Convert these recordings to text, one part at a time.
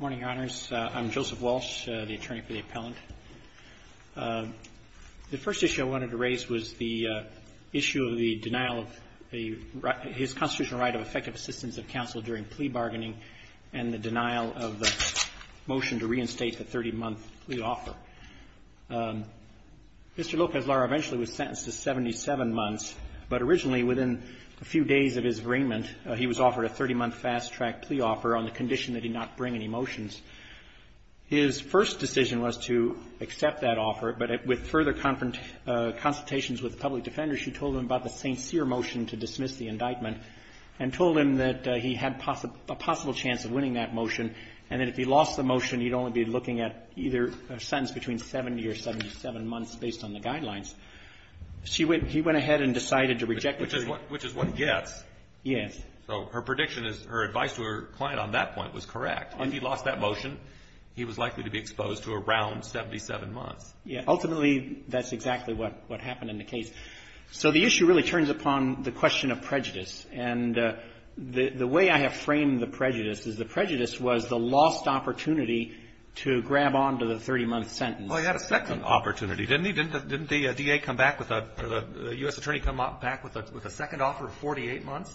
Morning, Your Honors. I'm Joseph Walsh, the attorney for the appellant. The first issue I wanted to raise was the issue of the denial of his constitutional right of effective assistance of counsel during plea bargaining and the denial of the motion to reinstate the 30-month plea offer. Mr. Lopez-Lara eventually was sentenced to 77 months, but originally within a few days of his arraignment, he was offered a 30-month fast-track plea offer on the condition that he not bring any motions. His first decision was to accept that offer, but with further consultations with the public defenders, she told him about the St. Cyr motion to dismiss the indictment and told him that he had a possible chance of winning that motion and that if he lost the motion, he'd only be looking at either a sentence between 70 or 77 months based on the guidelines. She went, he went ahead and decided to reject the motion. Which is what, which is what gets. Yes. So her prediction is, her advice to her client on that point was correct. If he lost that motion, he was likely to be exposed to around 77 months. Yes. Ultimately, that's exactly what, what happened in the case. So the issue really turns upon the question of prejudice, and the, the way I have framed the prejudice is the prejudice was the lost opportunity to grab on to the 30-month sentence. Well, he had a second opportunity, didn't he? Didn't the, didn't the DA come back with a, or the U.S. attorney come back with a, with a second offer of 48 months?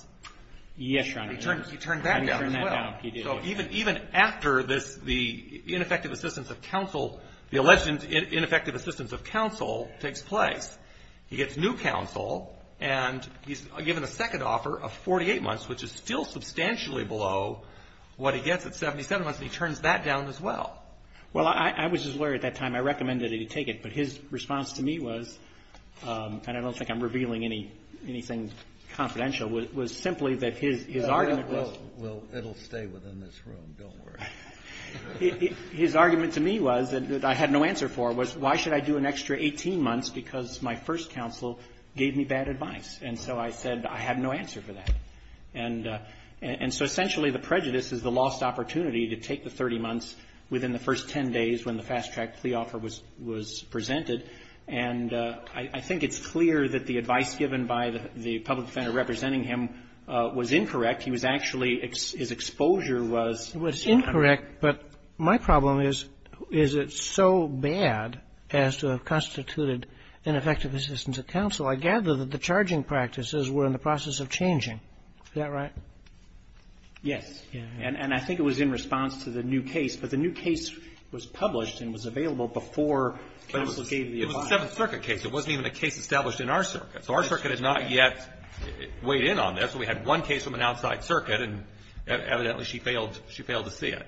Yes, Your Honor. He turned, he turned back as well. I turned that down. He did. So even, even after this, the ineffective assistance of counsel, the alleged ineffective assistance of counsel takes place, he gets new counsel, and he's given a second offer of 48 months, which is still substantially below what he gets at 77 months, and he turns that down as well. Well, I, I was just worried at that time. I recommended he take it, but his response to me was, and I don't think I'm revealing any, anything confidential, was, was simply that his, his argument was Well, it'll stay within this room. Don't worry. His argument to me was, that I had no answer for, was why should I do an extra 18 months because my first counsel gave me bad advice? And so I said, I have no answer for that. And, and so essentially the prejudice is the lost opportunity to take the 30 months within the first 10 days when the fast-track plea offer was, was presented. And I, I think it's clear that the advice given by the, the public defender representing him was incorrect. He was actually, his exposure was Was incorrect, but my problem is, is it so bad as to have constituted ineffective assistance of counsel? I gather that the charging practices were in the process of changing. Is that right? Yes. And, and I think it was in response to the new case. But the new case was published and was available before counsel gave the advice. But it was a Seventh Circuit case. It wasn't even a case established in our circuit. So our circuit has not yet weighed in on this. We had one case from an outside circuit, and evidently she failed, she failed to see it.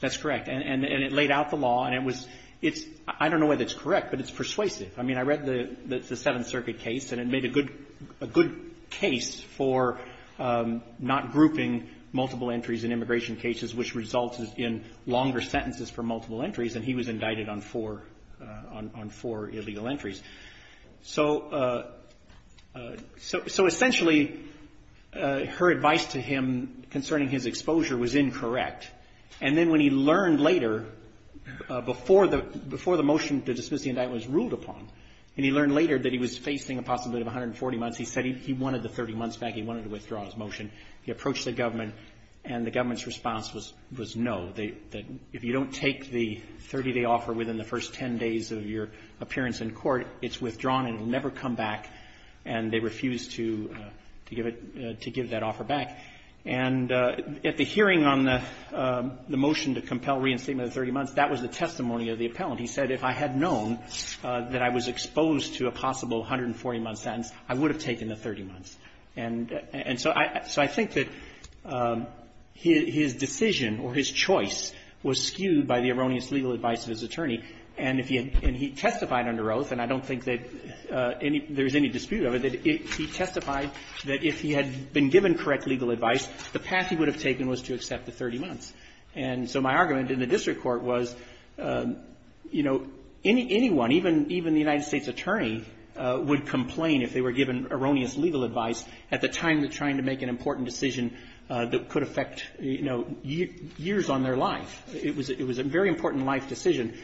That's correct. And, and it laid out the law, and it was, it's, I don't know whether it's correct, but it's persuasive. I mean, I read the, the Seventh Circuit case, and it made a good, a good case for not grouping multiple entries in immigration cases, which results in longer sentences for multiple entries. And he was indicted on four, on four illegal entries. So, so essentially, her advice to him concerning his exposure was incorrect. And then when he learned later, before the, before the motion to dismiss the indictment was ruled upon, and he learned later that he was facing a possibility of 140 months, he said he, he wanted the 30 months back. He wanted to withdraw his motion. He approached the government, and the government's response was, was no. They, if you don't take the 30-day offer within the first 10 days of your appearance in court, it's withdrawn and it will never come back. And they refused to, to give it, to give that offer back. And at the hearing on the, the motion to compel reinstatement of 30 months, that was the testimony of the appellant. He said, if I had known that I was exposed to a possible 140-month sentence, I would have taken the 30 months. And, and so I, so I think that his, his decision or his choice was skewed by the erroneous legal advice of his attorney. And if he had, and he testified under oath, and I don't think that any, there's any dispute over it, that he testified that if he had been given correct legal advice, the path he would have taken was to accept the 30 months. And so my argument in the district court was, you know, any, anyone, even, even the United States attorney would complain if they were given erroneous legal advice at the time of trying to make an important decision that could affect, you know, years on their life. It was, it was a very important life decision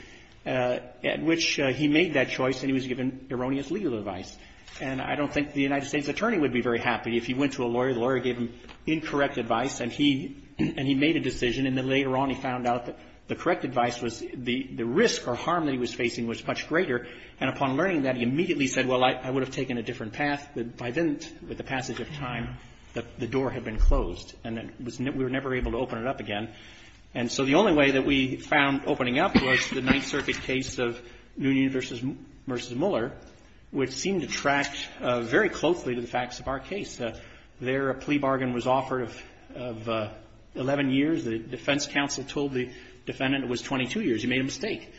at which he made that choice and he was given erroneous legal advice. And I don't think the United States attorney would be very happy if he went to a lawyer, the lawyer gave him incorrect advice, and he, and he made a decision, and then later on he found out that the correct advice was the risk or harm that he was facing was much greater. And upon learning that, he immediately said, well, I would have taken a different path, but if I didn't, with the passage of time, the door had been closed and it was never, we were never able to open it up again. And so the only way that we found opening up was the Ninth Circuit case of Noonan v. Mueller, which seemed to track very closely to the facts of our case. There, a plea bargain was offered of 11 years. The defense counsel told the defendant it was 22 years. He made a mistake.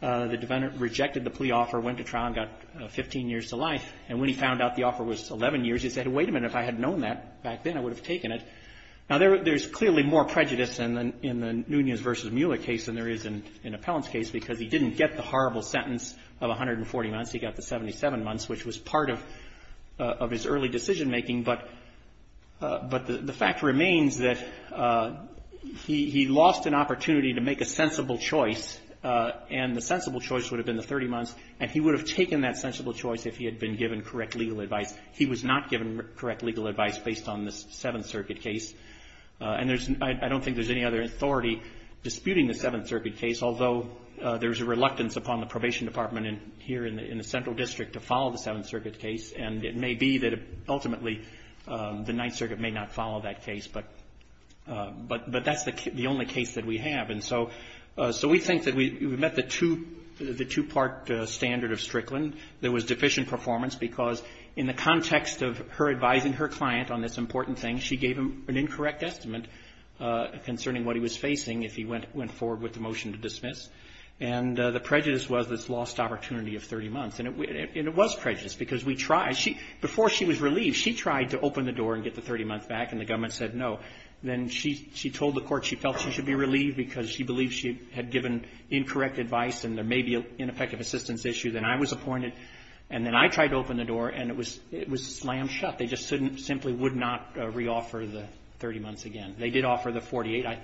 The defendant rejected the plea offer, went to trial, and got 15 years to life. And when he found out the offer was 11 years, he said, wait a minute, if I had known that back then, I would have taken it. Now there, there's clearly more prejudice in the, in the Noonan v. Mueller case than there is in, in Appellant's case because he didn't get the horrible sentence of 140 months, he got the 77 months, which was part of, of his early decision-making. But, but the, the fact remains that he, he lost an opportunity to make a sensible choice. And the sensible choice would have been the 30 months. And he would have taken that sensible choice if he had been given correct legal advice. He was not given correct legal advice based on the Seventh Circuit case. And there's, I, I don't think there's any other authority disputing the Seventh Circuit case, although there's a reluctance upon the Probation Department in, here in the, in the Central District to follow the Seventh Circuit case. And it may be that ultimately the Ninth Circuit may not follow that case. But, but, but that's the, the only case that we have. And so, so we think that we, we met the two, the two-part standard of Strickland. There was deficient performance because in the context of her advising her client on this important thing, she gave him an incorrect estimate concerning what he was facing if he went, went forward with the motion to dismiss. And the prejudice was this lost opportunity of 30 months. And it, and it was prejudice because we tried, she, before she was relieved, she tried to open the door and get the 30 months back and the government said no. Then she, she told the court she felt she should be relieved because she believed she had given incorrect advice and there may be ineffective assistance issue. Then I was appointed and then I tried to open the door and it was, it was slam shut. They just simply would not re-offer the 30 months again. They did offer the 48. I,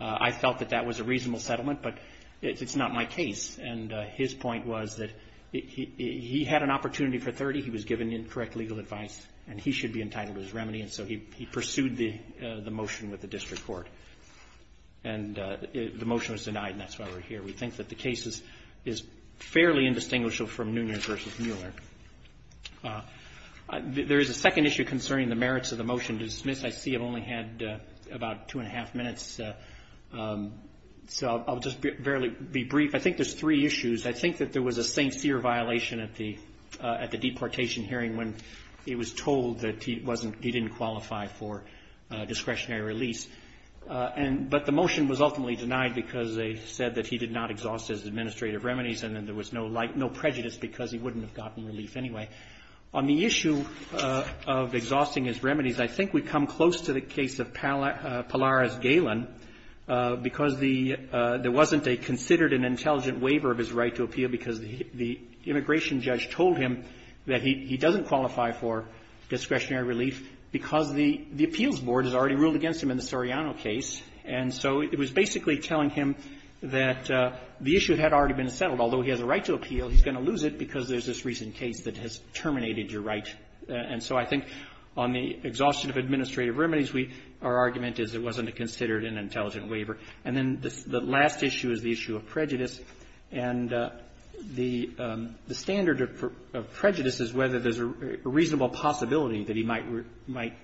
I felt that that was a reasonable settlement, but it's not my case. And his point was that he, he, he had an opportunity for 30. He was given incorrect legal advice and he should be entitled to his remedy. And so he, he pursued the, the motion with the district court. And the motion was denied and that's why we're here. We think that the case is, is fairly indistinguishable from Nunez versus Mueller. There is a second issue concerning the merits of the motion to dismiss. I see I've only had about two and a half minutes. So I'll just barely be brief. I think there's three issues. I think that there was a sincere violation at the, at the deportation hearing when he was told that he wasn't, he wasn't qualified for discretionary release. And, but the motion was ultimately denied because they said that he did not exhaust his administrative remedies and then there was no light, no prejudice because he wouldn't have gotten relief anyway. On the issue of exhausting his remedies, I think we come close to the case of Pallara's Galen because the, there wasn't a considered and intelligent waiver of his right to appeal because the, the immigration judge told him that he, he doesn't qualify for discretionary relief because the, the appeals board has already ruled against him in the Soriano case. And so it was basically telling him that the issue had already been settled. Although he has a right to appeal, he's going to lose it because there's this recent case that has terminated your right. And so I think on the exhaustion of administrative remedies, we, our argument is it wasn't a considered and intelligent waiver. And then the last issue is the issue of prejudice. And the, the standard of, of prejudice is whether there's a reasonable possibility that he might, might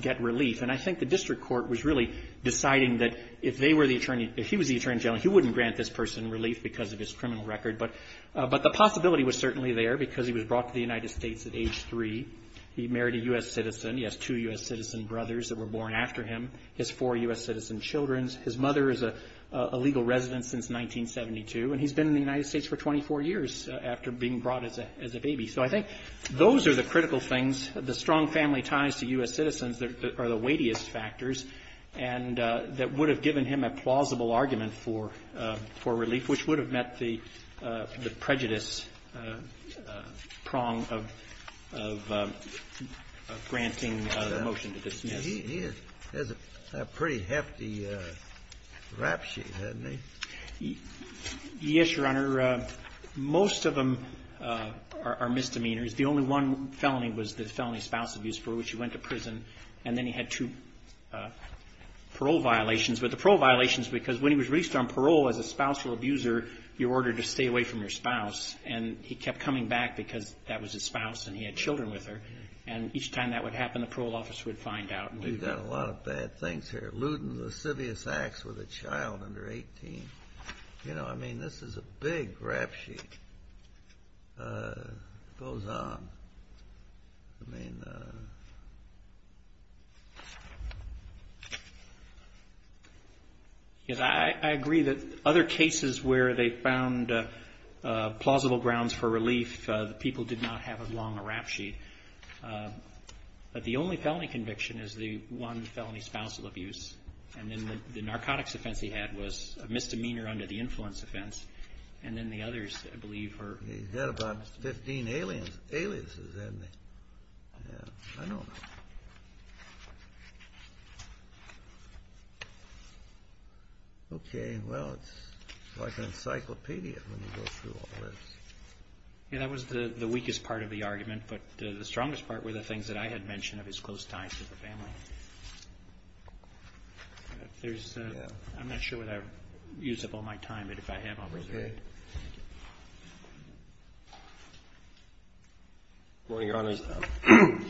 get relief. And I think the district court was really deciding that if they were the attorney, if he was the attorney general, he wouldn't grant this person relief because of his criminal record. But, but the possibility was certainly there because he was brought to the United States at age three. He married a U.S. citizen. He has two U.S. citizen brothers that were born after him. His four U.S. citizen children. His mother is a, a legal resident since 1972. And he's been in the United States for 24 years after being brought as a, as a baby. So I think those are the critical things, the strong family ties to U.S. citizens that, that are the weightiest factors and that would have given him a plausible argument for, for relief, which would have met the, the prejudice prong of, of, of granting the motion to dismiss. He, he has a pretty hefty rap sheet, hasn't he? Yes, Your Honor. Most of them are, are misdemeanors. The only one felony was the felony spouse abuse for which he went to prison and then he had two parole violations. But the parole violations, because when he was released on parole as a spousal abuser, you're ordered to stay away from your spouse. And he kept coming back because that was his spouse and he had children with her. And each time that would happen, the parole office would find out. And we've got a lot of bad things here. Looting lascivious acts with a child under 18, you know, I mean, this is a big rap sheet. It goes on. I mean. Yes, I agree that other cases where they found plausible grounds for relief, the people did not have as long a rap sheet. But the only felony conviction is the one felony spousal abuse. And then the narcotics offense he had was a misdemeanor under the influence offense. And then the others, I believe, are. He's had about 15 aliases, hasn't he? Okay. Well, it's like an encyclopedia when you go through all this. Yeah, that was the weakest part of the argument. But the strongest part were the things that I had mentioned of his close ties to the family. I'm not sure what I've used up all my time, but if I have, I'll reserve it. Good morning, Your Honors.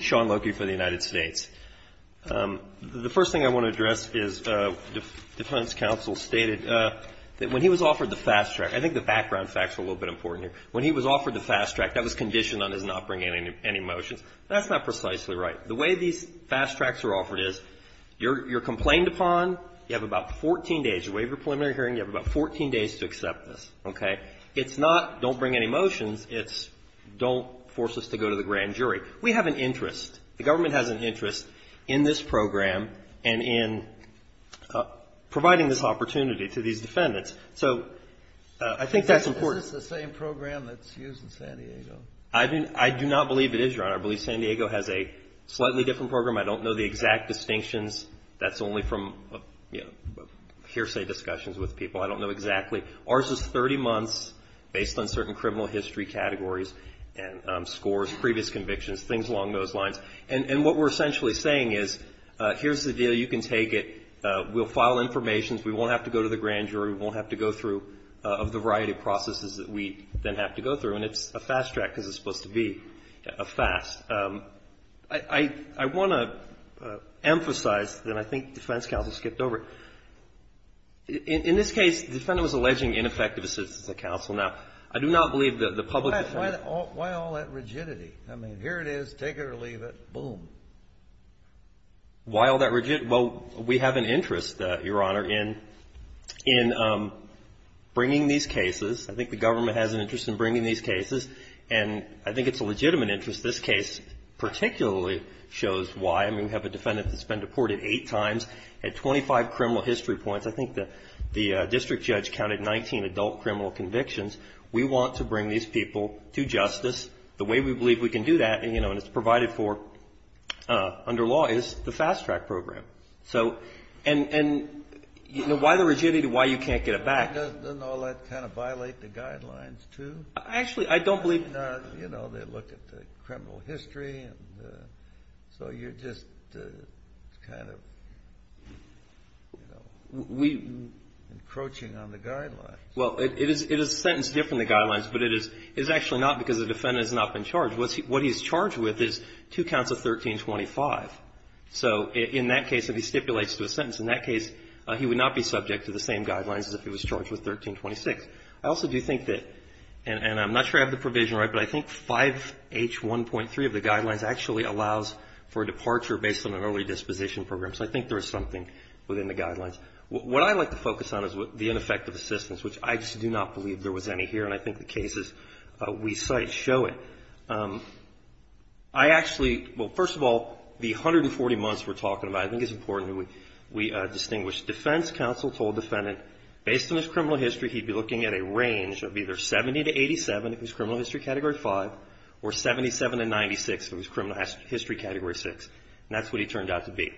Sean Loki for the United States. The first thing I want to address is defense counsel stated that when he was offered the fast track, I think the background facts are a little bit important here. When he was offered the fast track, that was conditioned on his not bringing any motions. That's not precisely right. The way these fast tracks are offered is you're complained upon. You have about 14 days. You waive your preliminary hearing. You have about 14 days to accept this. Okay? It's not don't bring any motions. It's don't force us to go to the grand jury. We have an interest. The government has an interest in this program and in providing this opportunity to these people. Is this the same program that's used in San Diego? I do not believe it is, Your Honor. I believe San Diego has a slightly different program. I don't know the exact distinctions. That's only from hearsay discussions with people. I don't know exactly. Ours is 30 months based on certain criminal history categories and scores, previous convictions, things along those lines. And what we're essentially saying is, here's the deal. You can take it. We'll file information. We won't have to go to the grand jury. We won't have to go through the variety of processes that we then have to go through. And it's a fast track because it's supposed to be a fast. I want to emphasize that I think defense counsel skipped over it. In this case, the defendant was alleging ineffective assistance of counsel. Now, I do not believe that the public defense counsel. Why all that rigidity? I mean, here it is. Take it or leave it. Boom. Why all that rigidity? Well, we have an interest, Your Honor, in bringing these cases. I think the government has an interest in bringing these cases. And I think it's a legitimate interest. This case particularly shows why. I mean, we have a defendant that's been deported eight times at 25 criminal history points. I think the district judge counted 19 adult criminal convictions. We want to bring these people to justice. The way we believe we can do that, and it's provided for under law, is the fast track program. And why the rigidity? Why you can't get it back? Doesn't all that kind of violate the guidelines, too? Actually, I don't believe it does. You know, they look at the criminal history. So you're just kind of encroaching on the guidelines. Well, it is sentenced different than the guidelines, but it is actually not because the defendant has not been charged. What he's charged with is two counts of 1325. So in that case, if he stipulates to a sentence, in that case, he would not be subject to the same guidelines as if he was charged with 1326. I also do think that, and I'm not sure I have the provision right, but I think 5H1.3 of the guidelines actually allows for a departure based on an early disposition program. So I think there is something within the guidelines. What I like to focus on is the ineffective assistance, which I just do not believe there was any here, and I think the cases we cite show it. I actually, well, first of all, the 140 months we're talking about, I think it's important that we distinguish defense counsel told defendant, based on his criminal history, he'd be looking at a range of either 70 to 87, if it was criminal history category 5, or 77 to 96, if it was criminal history category 6. And that's what he turned out to be.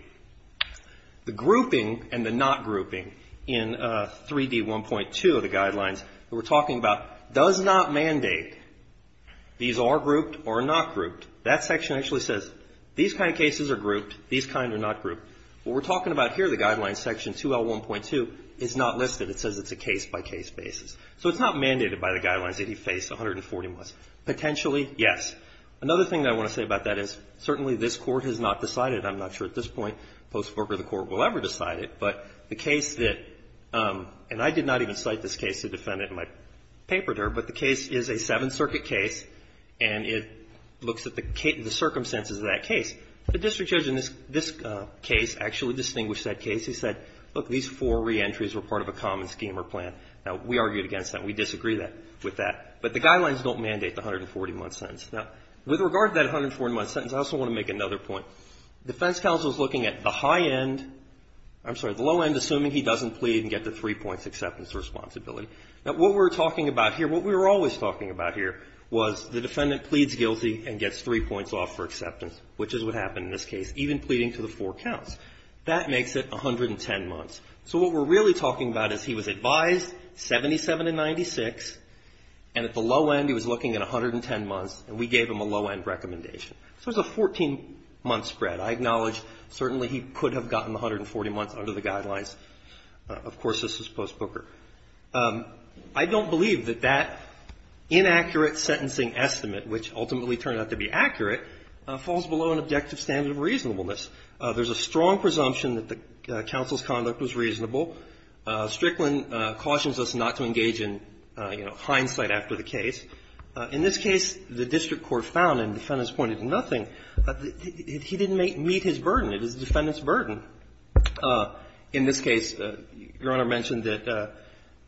The grouping and the not grouping in 3D1.2 of the guidelines that we're talking about does not mandate these are grouped or not grouped. That section actually says these kind of cases are grouped, these kind are not grouped. What we're talking about here, the guidelines section 2L1.2, is not listed. It says it's a case-by-case basis. So it's not mandated by the guidelines that he faced 140 months. Potentially, yes. Another thing I want to say about that is, certainly this Court has not decided, I'm not sure at this point, and I don't know if the Court will ever decide it, but the case that, and I did not even cite this case to defendant in my paper there, but the case is a 7th Circuit case and it looks at the circumstances of that case. The district judge in this case actually distinguished that case. He said, look, these four reentries were part of a common scheme or plan. Now, we argued against that. We disagree with that. But the guidelines don't mandate the 140-month sentence. Now, with regard to that 140-month sentence, I also want to make another point. Defense counsel is looking at the high end, I'm sorry, the low end, assuming he doesn't plead and get the 3 points acceptance responsibility. Now, what we're talking about here, what we were always talking about here, was the defendant pleads guilty and gets 3 points off for acceptance, which is what happened in this case, even pleading to the 4 counts. That makes it 110 months. So what we're really talking about is he was advised 77 to 96 and at the low end he was looking at 110 months and we gave him a low-end recommendation. So it was a 14-month spread. I acknowledge certainly he could have gotten the 140 months under the guidelines. Of course, this was post-Booker. I don't believe that that inaccurate sentencing estimate, which ultimately turned out to be accurate, falls below an objective standard of reasonableness. There's a strong presumption that the counsel's conduct was reasonable. Strickland cautions us not to engage in, you know, hindsight after the case. In this case, the district court found, and the defendants pointed to nothing, that he didn't meet his burden. It was the defendant's burden. In this case, Your Honor mentioned that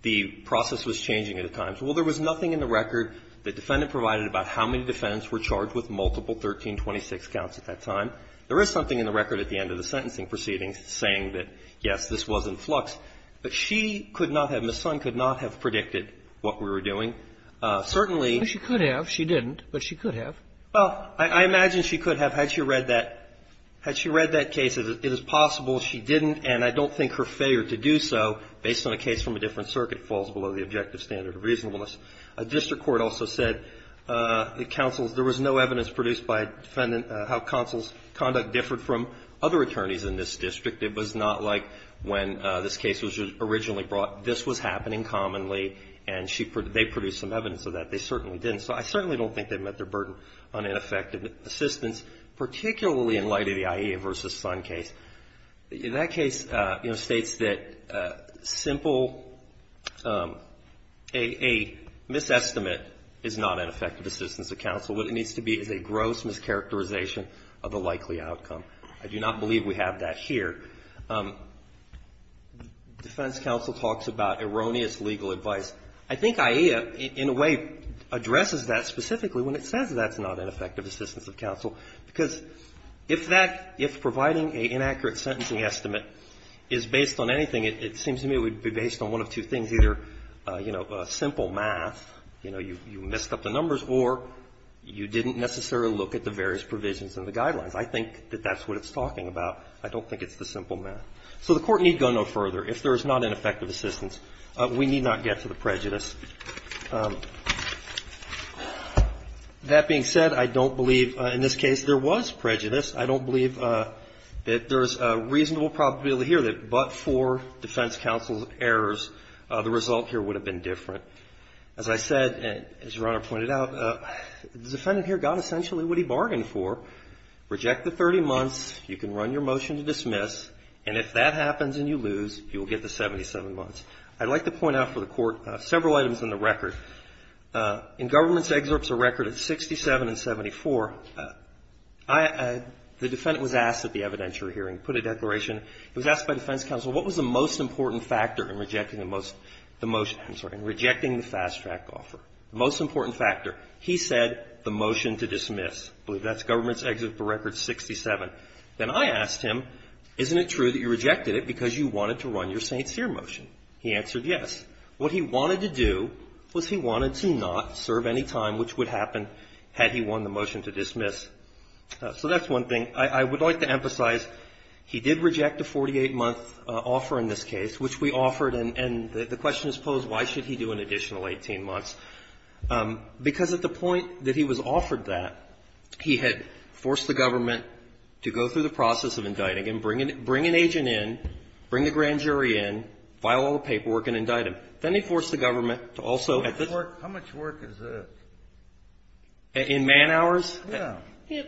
the process was changing at a time. Well, there was nothing in the record that the defendant provided about how many defendants were charged with multiple 1326 counts at that time. There is something in the record at the end of the sentencing proceedings saying that, yes, this was in flux. But she could not have, Ms. Sun could not have predicted what we were doing. Certainly — Well, she could have. She didn't. But she could have. Well, I imagine she could have had she read that. Had she read that case, it is possible she didn't. And I don't think her failure to do so, based on a case from a different circuit, falls below the objective standard of reasonableness. A district court also said the counsel's — there was no evidence produced by a defendant how counsel's conduct differed from other attorneys in this district. It was not like when this case was originally brought. This was happening commonly. And she — they produced some evidence of that. They certainly didn't. So I certainly don't think they met their burden on ineffective assistance, particularly in light of the Aiea v. Sun case. That case, you know, states that simple — a misestimate is not ineffective assistance of counsel. What it needs to be is a gross mischaracterization of the likely outcome. I do not believe we have that here. Defense counsel talks about erroneous legal advice. I think Aiea, in a way, addresses that specifically when it says that's not ineffective assistance of counsel, because if that — if providing an inaccurate sentencing estimate is based on anything, it seems to me it would be based on one of two things, either, you know, simple math, you know, you messed up the numbers, or you didn't necessarily look at the various provisions in the guidelines. I think that that's what it's talking about. I don't think it's the simple math. So the Court need go no further if there is not ineffective assistance. We need not get to the prejudice. That being said, I don't believe in this case there was prejudice. I don't believe that there's a reasonable probability here that but for defense counsel's errors, the result here would have been different. As I said, as Your Honor pointed out, the defendant here got essentially what he bargained for, reject the 30 months, you can run your motion to dismiss, and if that happens and you lose, you will get the 77 months. I'd like to point out for the Court several items in the record. In Government's excerpts of record at 67 and 74, the defendant was asked at the evidentiary hearing, put a declaration, he was asked by defense counsel, what was the most important factor in rejecting the most — I'm sorry, in rejecting the fast-track offer, the most important factor. He said the motion to dismiss. I believe that's Government's excerpt for record 67. Then I asked him, isn't it true that you rejected it because you wanted to run your St. Cyr motion? He answered yes. What he wanted to do was he wanted to not serve any time which would happen had he won the motion to dismiss. So that's one thing. I would like to emphasize he did reject a 48-month offer in this case, which we offered, and the question is posed, why should he do an additional 18 months? Because at the point that he was offered that, he had forced the Government to go through the process of indicting him, bring an agent in, bring the grand jury in, file all the paperwork and indict him. Then he forced the Government to also — How much work is this? In man hours? Yeah. Yeah.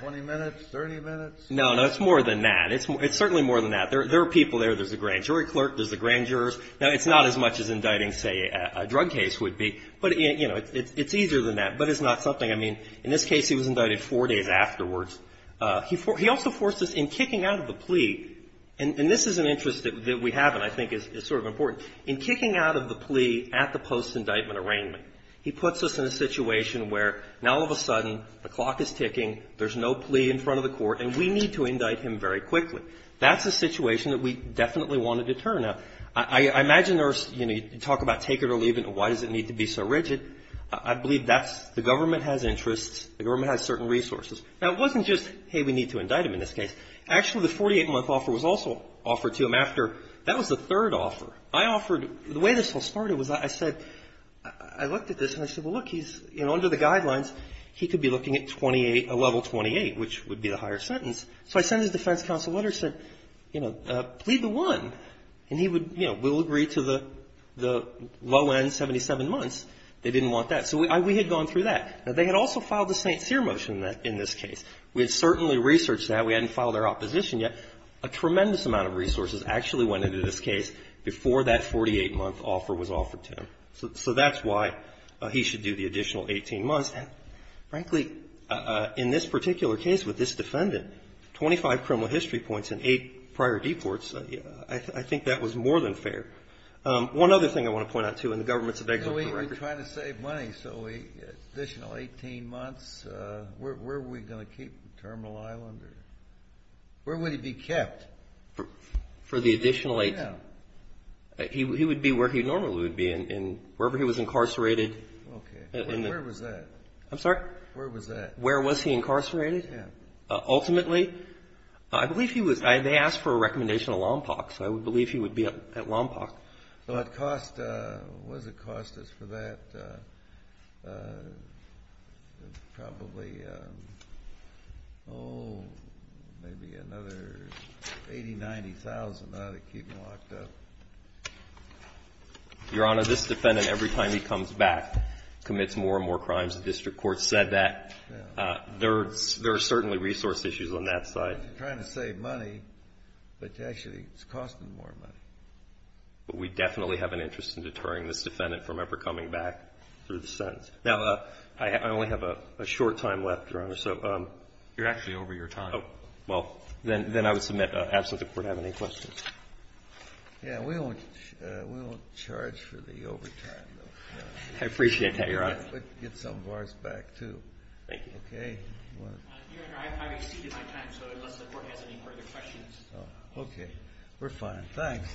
20 minutes, 30 minutes? No, no. It's more than that. It's certainly more than that. There are people there. There's a grand jury clerk. There's the grand jurors. Now, it's not as much as indicting, say, a drug case would be, but, you know, it's easier than that. But it's not something — I mean, in this case, he was indicted four days afterwards. He also forced us in kicking out of the plea, and this is an interest that we have and I think is sort of important. In kicking out of the plea at the post-indictment arraignment, he puts us in a situation where now all of a sudden the clock is ticking, there's no plea in front of the court, and we need to indict him very quickly. That's a situation that we definitely wanted to turn. Now, I imagine there's — you know, you talk about take it or leave it. Why does it need to be so rigid? I believe that's — the government has interests. The government has certain resources. Now, it wasn't just, hey, we need to indict him in this case. Actually, the 48-month offer was also offered to him after. That was the third offer. I offered — the way this all started was I said — I looked at this and I said, well, look, he's — you know, under the guidelines, he could be looking at 28 — a level 28, which would be the higher sentence. So I sent his defense counsel letter and said, you know, plead the one. And he would — you know, we'll agree to the low-end 77 months. They didn't want that. So we had gone through that. Now, they had also filed the St. Cyr motion in this case. We had certainly researched that. We hadn't filed our opposition yet. A tremendous amount of resources actually went into this case before that 48-month offer was offered to him. So that's why he should do the additional 18 months. And, frankly, in this particular case with this defendant, 25 criminal history points and eight prior deports, I think that was more than fair. One other thing I want to point out, too, and the government's — You know, we were trying to save money. So the additional 18 months, where were we going to keep him? Terminal Island? Where would he be kept? For the additional 18 — Yeah. He would be where he normally would be in — wherever he was incarcerated. Okay. Where was that? I'm sorry? Where was that? Where was he incarcerated? Yeah. Ultimately? I believe he was — they asked for a recommendation of Lompoc. So I would believe he would be at Lompoc. What would it cost us for that? Probably, oh, maybe another 80,000, 90,000 to keep him locked up. Your Honor, this defendant, every time he comes back, commits more and more crimes. The district court said that. There are certainly resource issues on that side. We're trying to save money, but actually it's costing more money. But we definitely have an interest in deterring this defendant from ever coming back through the sentence. Now, I only have a short time left, Your Honor, so — You're actually over your time. Oh. Well, then I would submit, absent the Court, I have any questions. Yeah. We won't charge for the overtime, though. I appreciate that, Your Honor. We'll get some of ours back, too. Thank you. Your Honor, I've exceeded my time, so unless the Court has any further questions — Okay. We're fine. Thanks.